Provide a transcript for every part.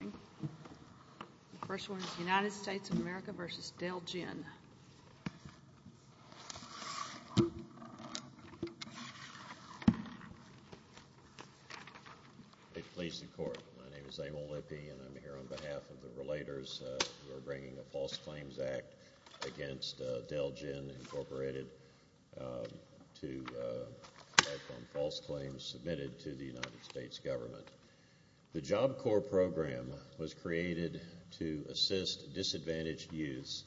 The first one is United States of America v. Del-Jen. Please support. My name is Abel Lippy and I'm here on behalf of the Relators. We're bringing a False Claims Act against Del-Jen, Incorporated to write on false claims submitted to the United States government. The Job Corps program was created to assist disadvantaged youths,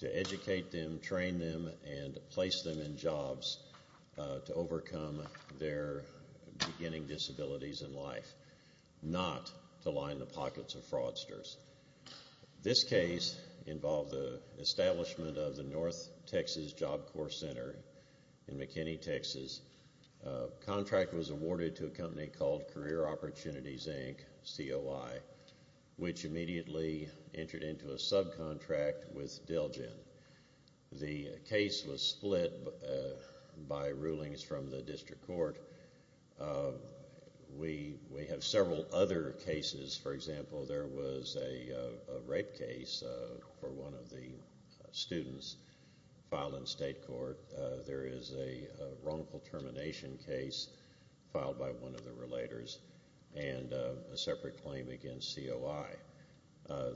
to educate them, train them, and place them in jobs to overcome their beginning disabilities in life, not to line the pockets of fraudsters. This case involved the establishment of the North Texas Job Corps Center in McKinney, Texas. The contract was awarded to a company called Career Opportunities, Inc., COI, which immediately entered into a subcontract with Del-Jen. The case was split by rulings from the district court. We have several other cases. For example, there was a rape case for one of the students filed in state court. There is a wrongful termination case filed by one of the Relators and a separate claim against COI.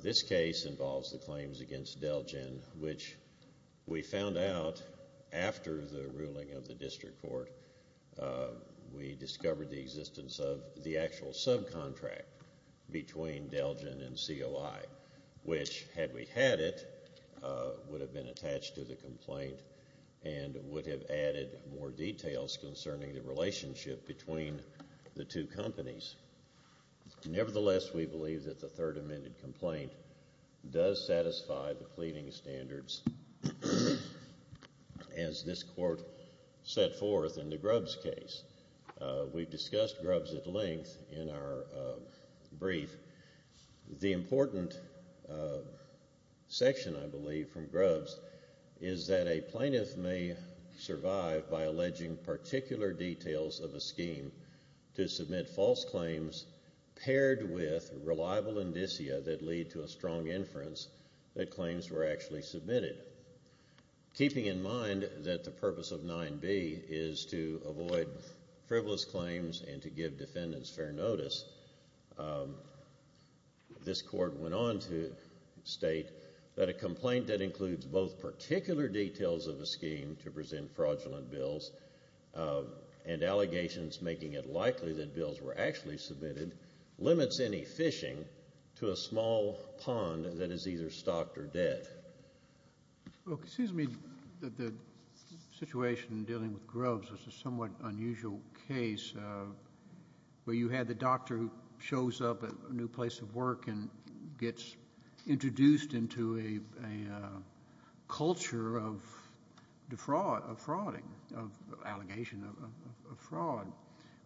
This case involves the claims against Del-Jen, which we found out after the ruling of the district court. We discovered the existence of the actual subcontract between Del-Jen and COI, which, had we had it, would have been attached to the complaint and would have added more details concerning the relationship between the two companies. Nevertheless, we believe that the third amended complaint does satisfy the pleading standards as this court set forth in the Grubbs case. We've discussed Grubbs at length in our brief. The important section, I believe, from Grubbs is that a plaintiff may survive by alleging particular details of a scheme to submit false claims paired with reliable indicia that lead to a strong inference that claims were actually submitted. Keeping in mind that the purpose of 9b is to avoid frivolous claims and to give defendants fair notice, this court went on to state that a complaint that includes both particular details of a scheme to present fraudulent bills and allegations making it likely that bills were actually submitted limits any fishing to a small pond that is either stocked or dead. Well, it seems to me that the situation in dealing with Grubbs is a somewhat unusual case where you had the doctor who shows up at a new place of work and gets introduced into a culture of defrauding, of allegation of fraud.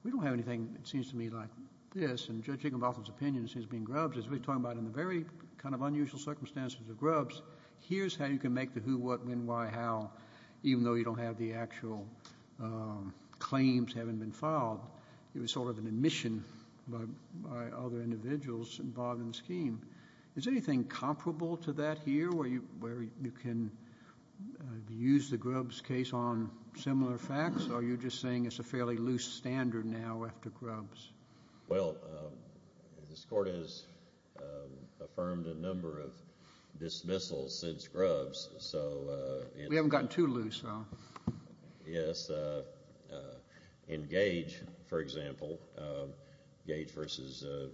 We don't have anything, it seems to me, like this. In Judge Higginbotham's opinion, it seems to me Grubbs is really talking about in the very kind of unusual circumstances of Grubbs, here's how you can make the who, what, when, why, how, even though you don't have the actual claims having been filed. It was sort of an admission by other individuals involved in the scheme. Is there anything comparable to that here where you can use the Grubbs case on similar facts or are you just saying it's a fairly loose standard now after Grubbs? Well, this court has affirmed a number of dismissals since Grubbs. We haven't gotten too loose. In Gage, for example, Gage v.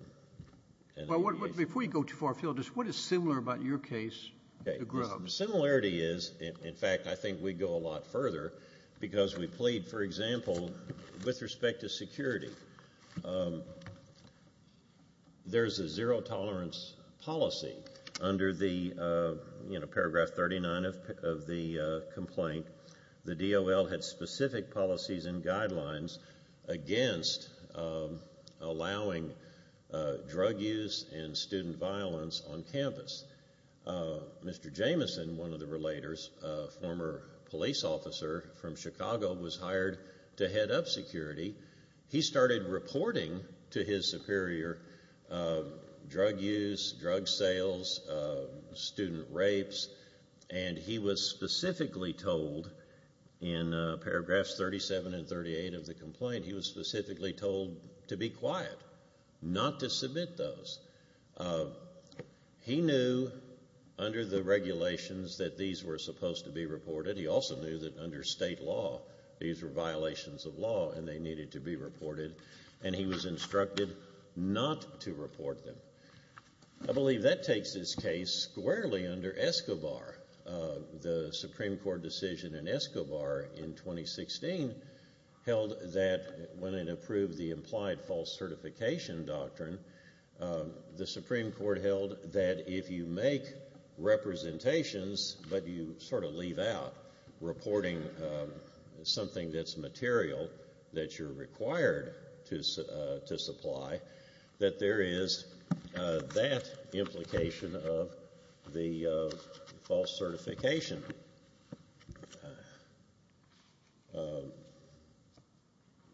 Before you go too far afield, what is similar about your case to Grubbs? The similarity is, in fact, I think we go a lot further because we plead, for example, with respect to security. There's a zero tolerance policy under paragraph 39 of the complaint. The DOL had specific policies and guidelines against allowing drug use and student violence on campus. Mr. Jameson, one of the relators, a former police officer from Chicago, was hired to head up security. He started reporting to his superior drug use, drug sales, student rapes, and he was specifically told in paragraphs 37 and 38 of the complaint, he was specifically told to be quiet, not to submit those. He knew under the regulations that these were supposed to be reported. He also knew that under state law these were violations of law and they needed to be reported, and he was instructed not to report them. I believe that takes this case squarely under Escobar. The Supreme Court decision in Escobar in 2016 held that when it approved the implied false certification doctrine, the Supreme Court held that if you make representations but you sort of leave out reporting something that's material that you're required to supply, that there is that implication of the false certification.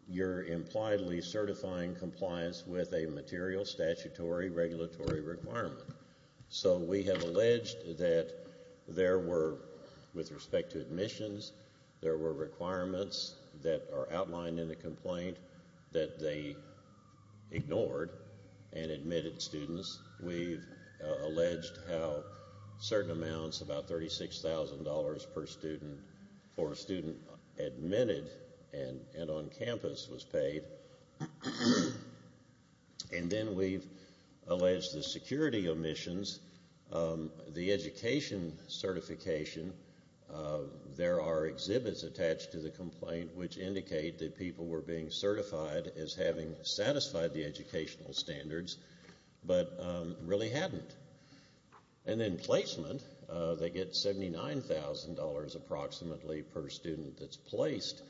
You're impliedly certifying compliance with a material statutory regulatory requirement. So we have alleged that there were, with respect to admissions, there were requirements that are outlined in the complaint that they ignored and admitted students. We've alleged how certain amounts, about $36,000 per student, for a student admitted and on campus was paid. And then we've alleged the security omissions. The education certification, there are exhibits attached to the complaint which indicate that people were being certified as having satisfied the educational standards but really hadn't. And then placement, they get $79,000 approximately per student that's placed.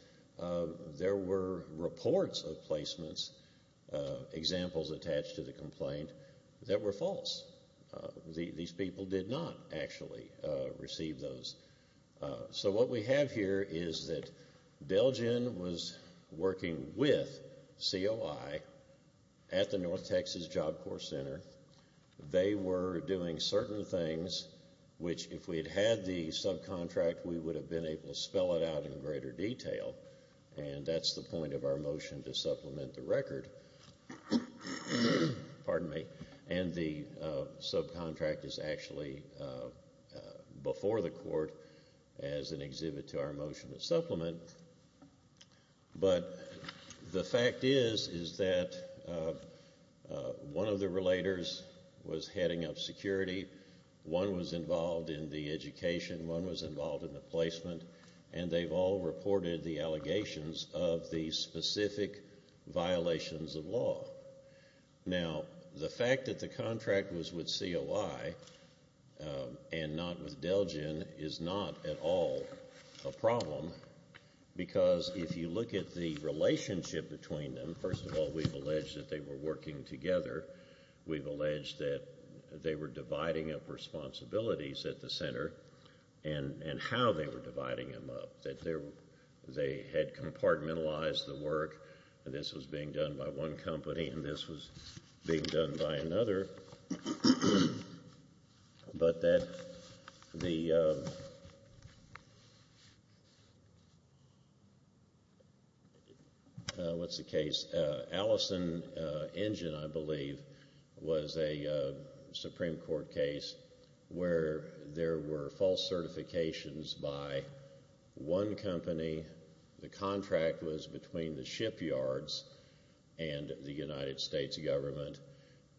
There were reports of placements, examples attached to the complaint, that were false. These people did not actually receive those. So what we have here is that Delgin was working with COI at the North Texas Job Corps Center. They were doing certain things which, if we'd had the subcontract, we would have been able to spell it out in greater detail. And that's the point of our motion to supplement the record. Pardon me. And the subcontract is actually before the court as an exhibit to our motion to supplement. But the fact is, is that one of the relators was heading up security. One was involved in the education. One was involved in the placement. And they've all reported the allegations of the specific violations of law. Now, the fact that the contract was with COI and not with Delgin is not at all a problem because if you look at the relationship between them, first of all, we've alleged that they were working together. We've alleged that they were dividing up responsibilities at the center and how they were dividing them up, that they had compartmentalized the work. This was being done by one company and this was being done by another. But that the—what's the case? Allison Engine, I believe, was a Supreme Court case where there were false certifications by one company. The contract was between the shipyards and the United States government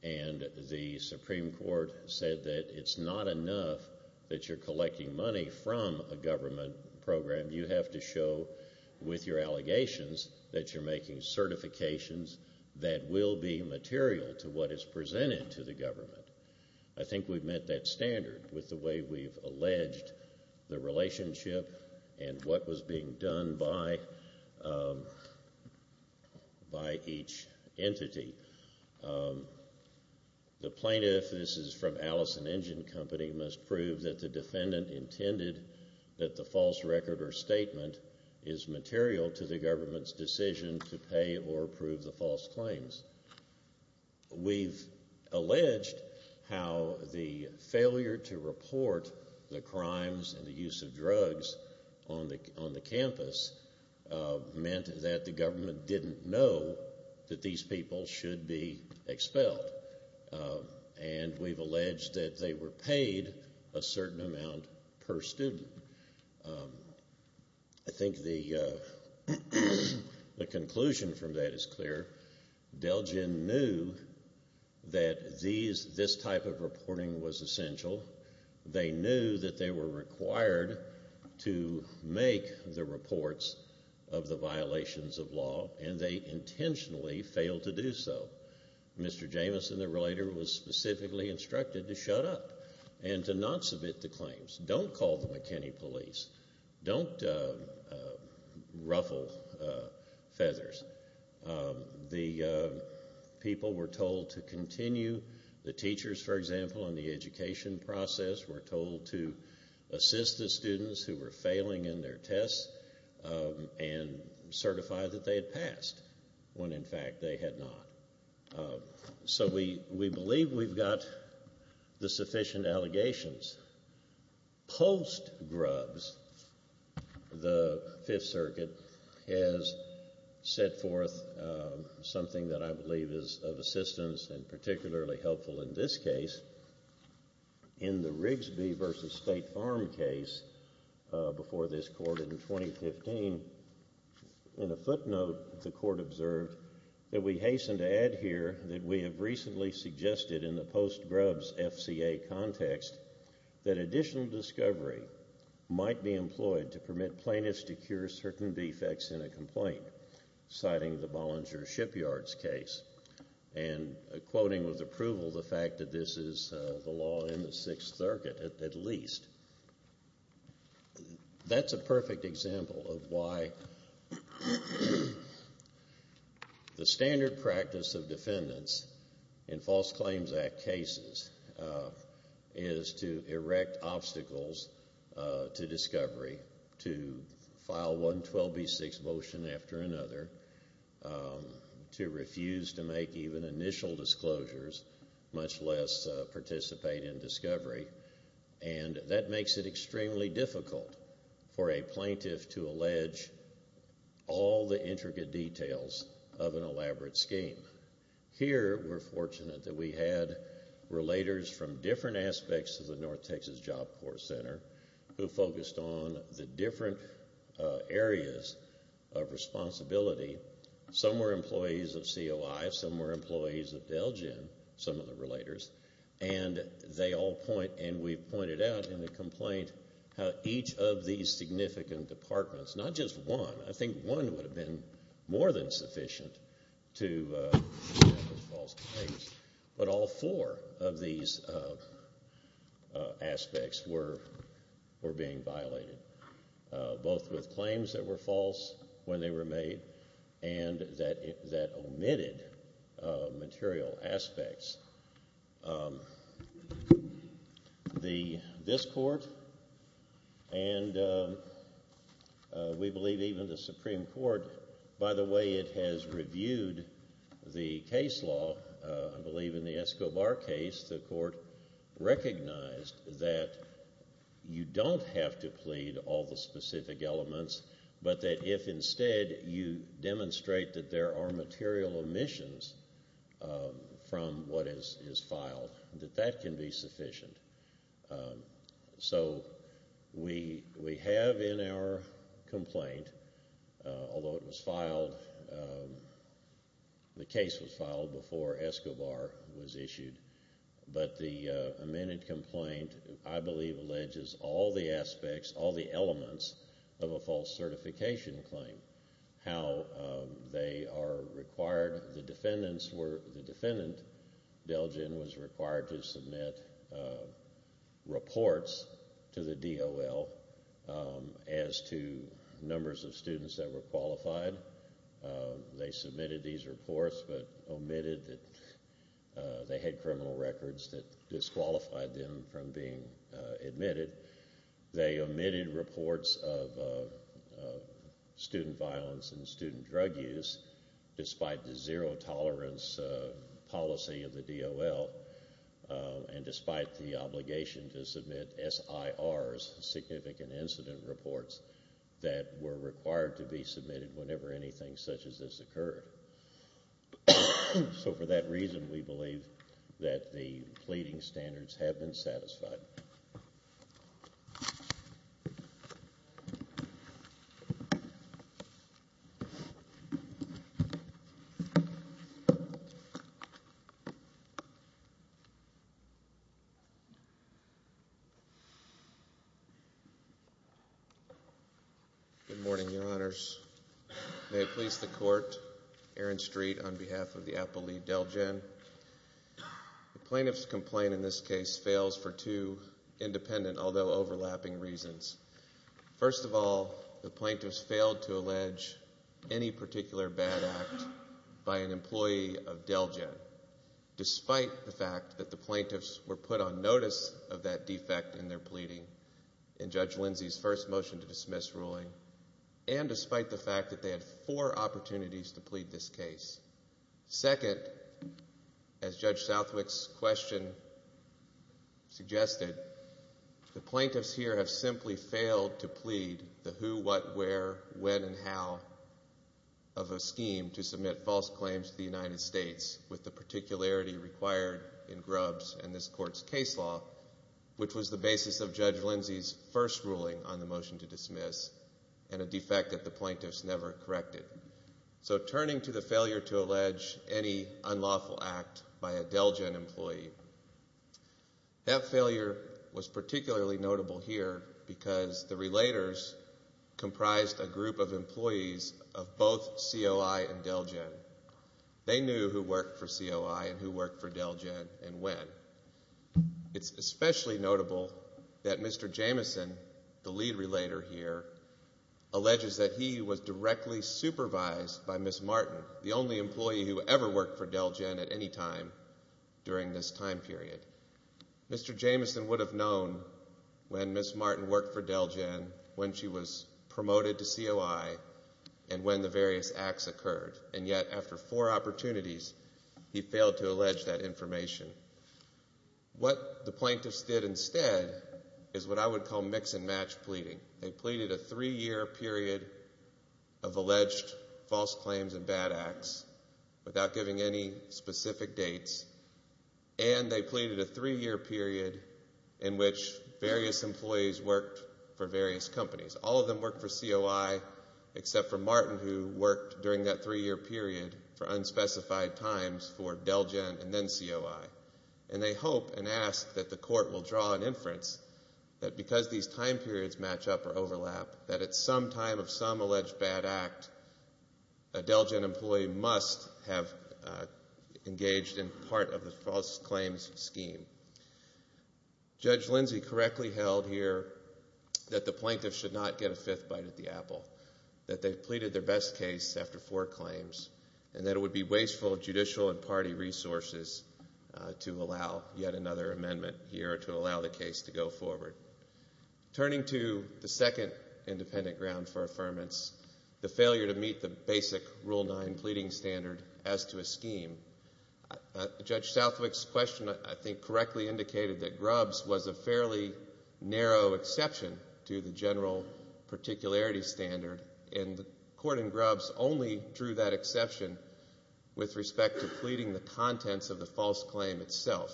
and the Supreme Court said that it's not enough that you're collecting money from a government program. You have to show with your allegations that you're making certifications that will be material to what is presented to the government. I think we've met that standard with the way we've alleged the relationship and what was being done by each entity. The plaintiff—this is from Allison Engine Company— must prove that the defendant intended that the false record or statement is material to the government's decision to pay or approve the false claims. We've alleged how the failure to report the crimes and the use of drugs on the campus meant that the government didn't know that these people should be expelled. And we've alleged that they were paid a certain amount per student. I think the conclusion from that is clear. Delgin knew that this type of reporting was essential. They knew that they were required to make the reports of the violations of law and they intentionally failed to do so. Mr. Jameson, the relator, was specifically instructed to shut up and to not submit the claims. Don't call the McKinney police. Don't ruffle feathers. The people were told to continue. The teachers, for example, in the education process, were told to assist the students who were failing in their tests and certify that they had passed when, in fact, they had not. So we believe we've got the sufficient allegations. Post-Grubbs, the Fifth Circuit has set forth something that I believe is of assistance and particularly helpful in this case. In the Rigsby v. State Farm case before this Court in 2015, in a footnote the Court observed that we hasten to add here that we have recently suggested in the Post-Grubbs FCA context that additional discovery might be employed to permit plaintiffs to cure certain defects in a complaint, citing the Bollinger Shipyards case and quoting with approval the fact that this is the law in the Sixth Circuit at least. That's a perfect example of why the standard practice of defendants in False Claims Act cases is to erect obstacles to discovery, to file one 12B6 motion after another, to refuse to make even initial disclosures, much less participate in discovery. And that makes it extremely difficult for a plaintiff to allege all the intricate details of an elaborate scheme. Here we're fortunate that we had relators from different aspects of the North Texas Job Corps Center who focused on the different areas of responsibility. Some were employees of COI, some were employees of DELGEM, some of the relators, and they all point, and we've pointed out in the complaint, how each of these significant departments, not just one, I think one would have been more than sufficient to make false claims, but all four of these aspects were being violated, both with claims that were false when they were made and that omitted material aspects. This Court and we believe even the Supreme Court, by the way, it has reviewed the case law. I believe in the Escobar case the Court recognized that you don't have to plead all the specific elements, but that if instead you demonstrate that there are material omissions from what is filed, that that can be sufficient. So we have in our complaint, although it was filed, the case was filed before Escobar was issued, but the amended complaint, I believe, alleges all the aspects, all the elements of a false certification claim. How they are required, the defendant, DELGEM, was required to submit reports to the DOL as to numbers of students that were qualified. They submitted these reports but omitted that they had criminal records that disqualified them from being admitted. They omitted reports of student violence and student drug use, despite the zero-tolerance policy of the DOL and despite the obligation to submit SIRs, significant incident reports, that were required to be submitted whenever anything such as this occurred. So for that reason, we believe that the pleading standards have been satisfied. Good morning, Your Honors. May it please the Court, Aaron Street on behalf of the Appellee DELGEM. The plaintiff's complaint in this case fails for two independent, although overlapping, reasons. First of all, the plaintiffs failed to allege any particular bad act by an employee of DELGEM, despite the fact that the plaintiffs were put on notice of that defect in their pleading. In Judge Lindsey's first motion to dismiss ruling, and despite the fact that they had four opportunities to plead this case. Second, as Judge Southwick's question suggested, the plaintiffs here have simply failed to plead the who, what, where, when, and how of a scheme to submit false claims to the United States with the particularity required in Grubbs and this Court's case law, which was the basis of Judge Lindsey's first ruling on the motion to dismiss and a defect that the plaintiffs never corrected. So turning to the failure to allege any unlawful act by a DELGEM employee, that failure was particularly notable here because the relators comprised a group of employees of both COI and DELGEM. They knew who worked for COI and who worked for DELGEM and when. It's especially notable that Mr. Jameson, the lead relator here, alleges that he was directly supervised by Ms. Martin, the only employee who ever worked for DELGEM at any time during this time period. Mr. Jameson would have known when Ms. Martin worked for DELGEM, when she was promoted to COI, and when the various acts occurred. And yet after four opportunities, he failed to allege that information. What the plaintiffs did instead is what I would call mix-and-match pleading. They pleaded a three-year period of alleged false claims and bad acts without giving any specific dates, and they pleaded a three-year period in which various employees worked for various companies. All of them worked for COI except for Martin, who worked during that three-year period for unspecified times for DELGEM and then COI. And they hope and ask that the court will draw an inference that because these time periods match up or overlap, that at some time of some alleged bad act, a DELGEM employee must have engaged in part of the false claims scheme. Judge Lindsey correctly held here that the plaintiffs should not get a fifth bite at the apple, that they pleaded their best case after four claims, and that it would be wasteful of judicial and party resources to allow yet another amendment here or to allow the case to go forward. Turning to the second independent ground for affirmance, the failure to meet the basic Rule 9 pleading standard as to a scheme, Judge Southwick's question I think correctly indicated that Grubbs was a fairly narrow exception to the general particularity standard, and the court in Grubbs only drew that exception with respect to pleading the contents of the false claim itself.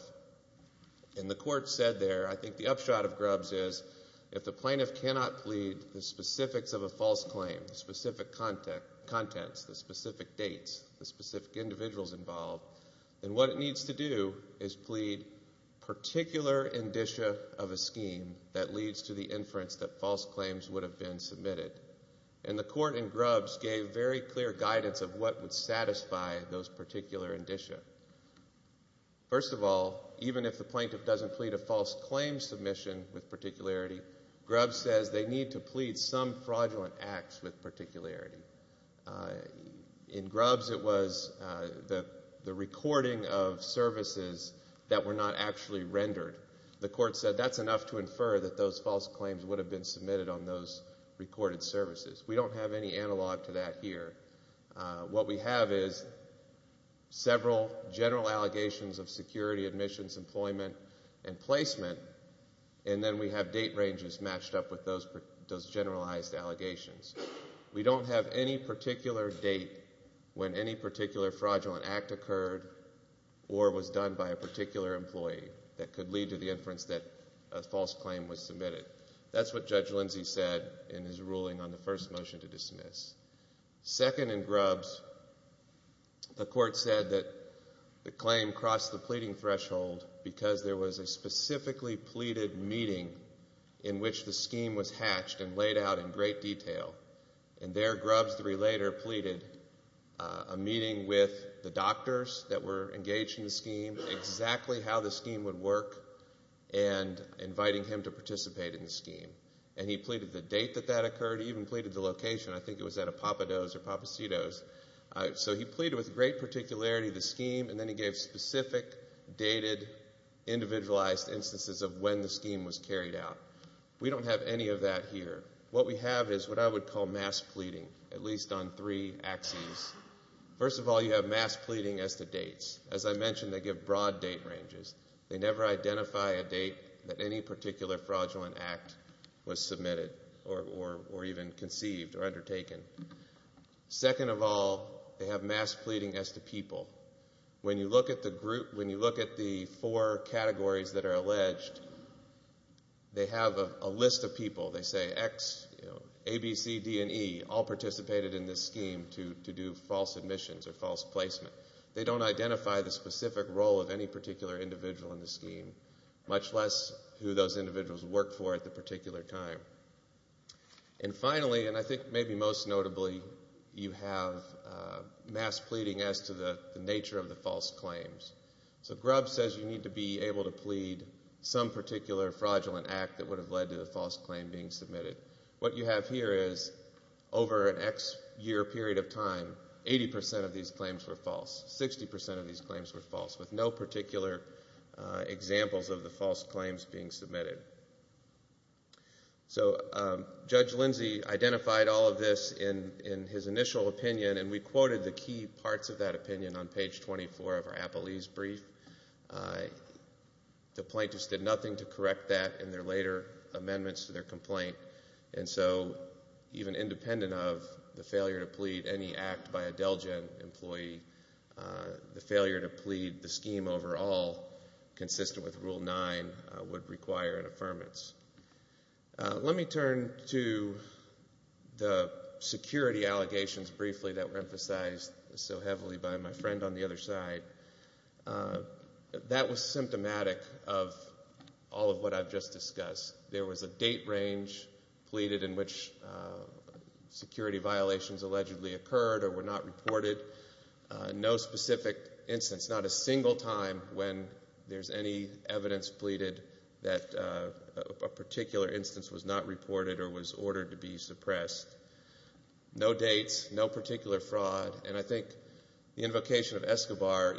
And the court said there, I think the upshot of Grubbs is, if the plaintiff cannot plead the specifics of a false claim, the specific contents, the specific dates, the specific individuals involved, then what it needs to do is plead particular indicia of a scheme that leads to the inference that false claims would have been submitted. And the court in Grubbs gave very clear guidance of what would satisfy those particular indicia. First of all, even if the plaintiff doesn't plead a false claim submission with particularity, Grubbs says they need to plead some fraudulent acts with particularity. In Grubbs it was the recording of services that were not actually rendered. The court said that's enough to infer that those false claims would have been submitted on those recorded services. We don't have any analog to that here. What we have is several general allegations of security, admissions, employment, and placement, and then we have date ranges matched up with those generalized allegations. We don't have any particular date when any particular fraudulent act occurred or was done by a particular employee that could lead to the inference that a false claim was submitted. That's what Judge Lindsey said in his ruling on the first motion to dismiss. Second in Grubbs, the court said that the claim crossed the pleading threshold because there was a specifically pleaded meeting in which the scheme was hatched and laid out in great detail. And there Grubbs, the relator, pleaded a meeting with the doctors that were engaged in the scheme, exactly how the scheme would work, and inviting him to participate in the scheme. And he pleaded the date that that occurred. He even pleaded the location. I think it was at a Papa Do's or Papa C Do's. So he pleaded with great particularity the scheme, and then he gave specific, dated, individualized instances of when the scheme was carried out. We don't have any of that here. What we have is what I would call mass pleading, at least on three axes. First of all, you have mass pleading as to dates. As I mentioned, they give broad date ranges. They never identify a date that any particular fraudulent act was submitted or even conceived or undertaken. Second of all, they have mass pleading as to people. When you look at the four categories that are alleged, they have a list of people. They say X, A, B, C, D, and E all participated in this scheme to do false admissions or false placement. They don't identify the specific role of any particular individual in the scheme, much less who those individuals worked for at the particular time. And finally, and I think maybe most notably, you have mass pleading as to the nature of the false claims. So Grubb says you need to be able to plead some particular fraudulent act that would have led to the false claim being submitted. What you have here is over an X-year period of time, 80% of these claims were false. 60% of these claims were false, with no particular examples of the false claims being submitted. So Judge Lindsey identified all of this in his initial opinion, and we quoted the key parts of that opinion on page 24 of our Appleese brief. The plaintiffs did nothing to correct that in their later amendments to their complaint. And so even independent of the failure to plead any act by a DELGEN employee, the failure to plead the scheme overall, consistent with Rule 9, would require an affirmance. Let me turn to the security allegations briefly that were emphasized so heavily by my friend on the other side. That was symptomatic of all of what I've just discussed. There was a date range pleaded in which security violations allegedly occurred or were not reported. No specific instance, not a single time when there's any evidence pleaded that a particular instance was not reported or was ordered to be suppressed. No dates, no particular fraud, and I think the invocation of Escobar,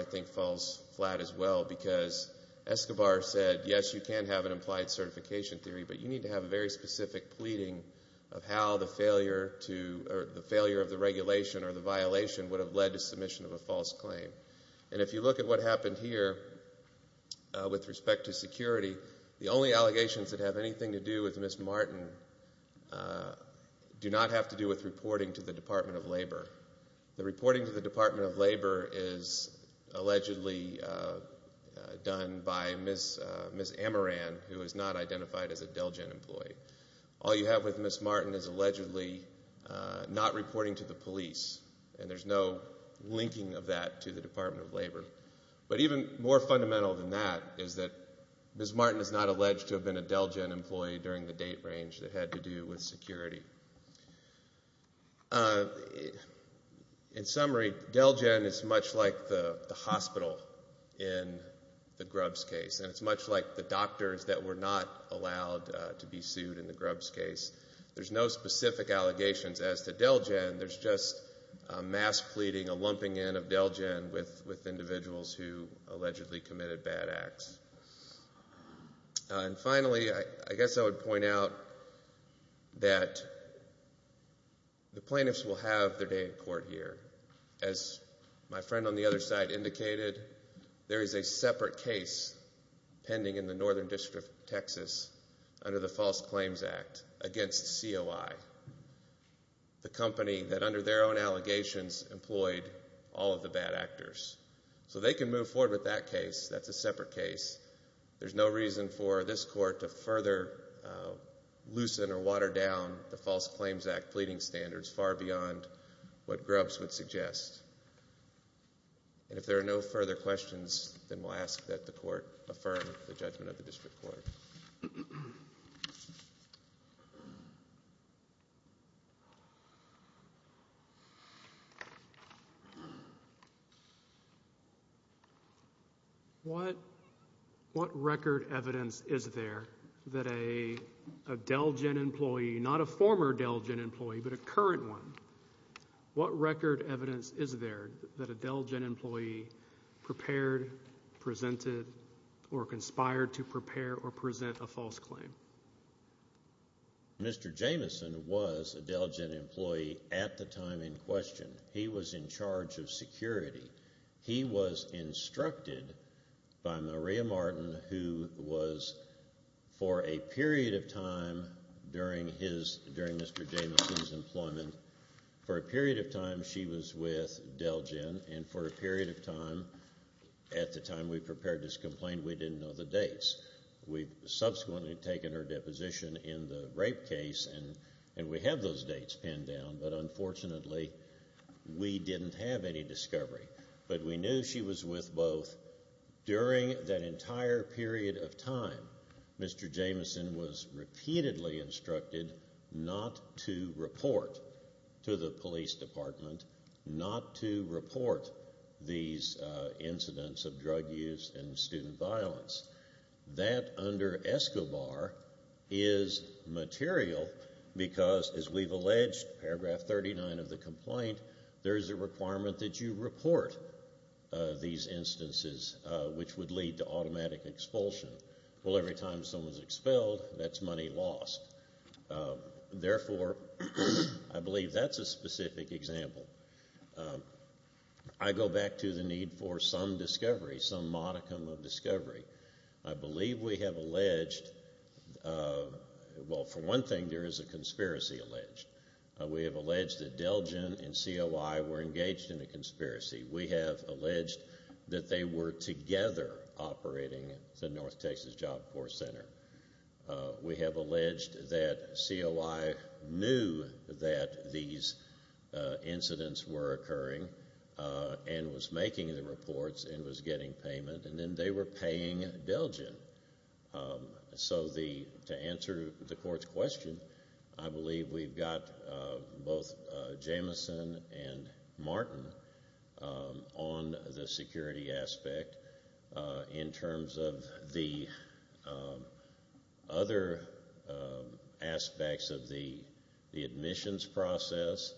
I think falls flat as well because Escobar said, yes, you can have an implied certification theory, but you need to have a very specific pleading of how the failure of the regulation or the violation would have led to submission of a false claim. And if you look at what happened here with respect to security, the only allegations that have anything to do with Ms. Martin do not have to do with reporting to the Department of Labor. The reporting to the Department of Labor is allegedly done by Ms. Amaran, who is not identified as a DELGEN employee. All you have with Ms. Martin is allegedly not reporting to the police, and there's no linking of that to the Department of Labor. But even more fundamental than that is that Ms. Martin is not alleged to have been a DELGEN employee during the date range that had to do with security. In summary, DELGEN is much like the hospital in the Grubbs case, and it's much like the doctors that were not allowed to be sued in the Grubbs case. There's no specific allegations as to DELGEN. There's just a mass pleading, a lumping in of DELGEN with individuals who allegedly committed bad acts. And finally, I guess I would point out that the plaintiffs will have their day in court here. As my friend on the other side indicated, there is a separate case pending in the Northern District of Texas under the False Claims Act against COI, the company that under their own allegations employed all of the bad actors. So they can move forward with that case. That's a separate case. There's no reason for this court to further loosen or water down the False Claims Act pleading standards far beyond what Grubbs would suggest. And if there are no further questions, then we'll ask that the court affirm the judgment of the district court. What record evidence is there that a DELGEN employee, not a former DELGEN employee, but a current one, what record evidence is there that a DELGEN employee prepared, presented, or conspired to prepare or present a false claim? Mr. Jameson was a DELGEN employee at the time in question. He was in charge of security. He was instructed by Maria Martin, who was, for a period of time during Mr. Jameson's employment, for a period of time she was with DELGEN, and for a period of time, at the time we prepared this complaint, we didn't know the dates. We've subsequently taken her deposition in the rape case, and we have those dates pinned down, but unfortunately we didn't have any discovery. But we knew she was with both. During that entire period of time, Mr. Jameson was repeatedly instructed not to report to the police department, not to report these incidents of drug use and student violence. That, under ESCOBAR, is material because, as we've alleged, paragraph 39 of the complaint, there is a requirement that you report these instances, which would lead to automatic expulsion. Well, every time someone's expelled, that's money lost. Therefore, I believe that's a specific example. I go back to the need for some discovery, some modicum of discovery. I believe we have alleged, well, for one thing, there is a conspiracy alleged. We have alleged that DELGEN and COI were engaged in a conspiracy. We have alleged that they were together operating the North Texas Job Corps Center. We have alleged that COI knew that these incidents were occurring and was making the reports and was getting payment, and then they were paying DELGEN. So to answer the court's question, I believe we've got both Jameson and Martin on the security aspect in terms of the other aspects of the admissions process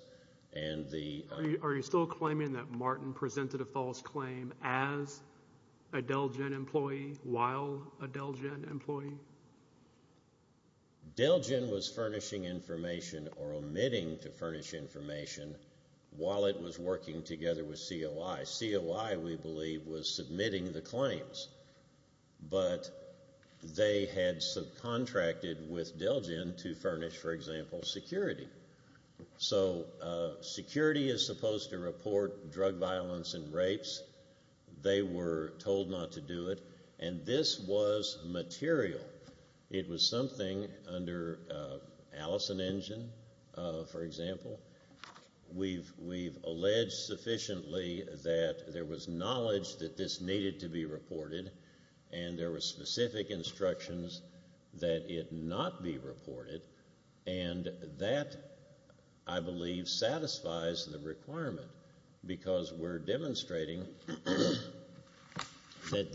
and the— Are you still claiming that Martin presented a false claim as a DELGEN employee while a DELGEN employee? DELGEN was furnishing information or omitting to furnish information while it was working together with COI. COI, we believe, was submitting the claims, but they had subcontracted with DELGEN to furnish, for example, security. So security is supposed to report drug violence and rapes. They were told not to do it, and this was material. It was something under Allison Engine, for example. We've alleged sufficiently that there was knowledge that this needed to be reported and there were specific instructions that it not be reported, and that, I believe, satisfies the requirement because we're demonstrating that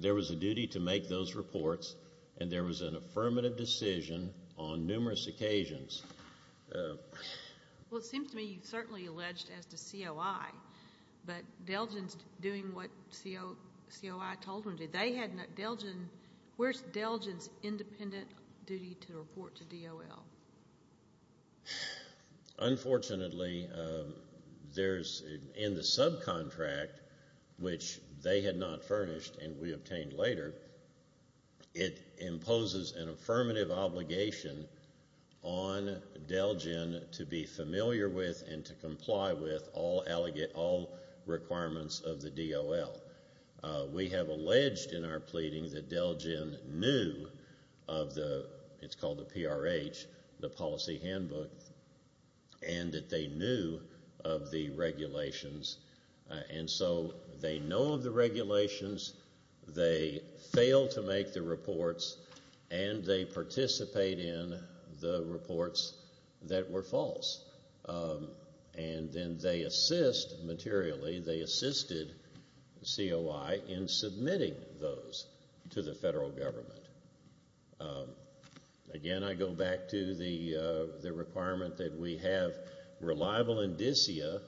there was a duty to make those reports and there was an affirmative decision on numerous occasions. Well, it seems to me you've certainly alleged as to COI, but DELGEN's doing what COI told them to. They had DELGEN—where's DELGEN's independent duty to report to DOL? Unfortunately, in the subcontract, which they had not furnished and we obtained later, it imposes an affirmative obligation on DELGEN to be familiar with and to comply with all requirements of the DOL. We have alleged in our pleading that DELGEN knew of the—it's called the PRH, the policy handbook, and that they knew of the regulations. And so they know of the regulations, they fail to make the reports, and they participate in the reports that were false. And then they assist materially, they assisted COI in submitting those to the federal government. Again, I go back to the requirement that we have reliable indicia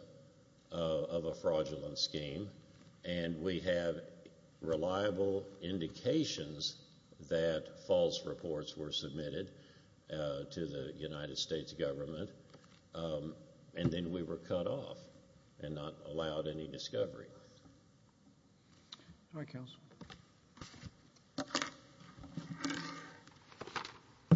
of a fraudulent scheme and we have reliable indications that false reports were submitted to the United States government and then we were cut off and not allowed any discovery. All right, Counsel.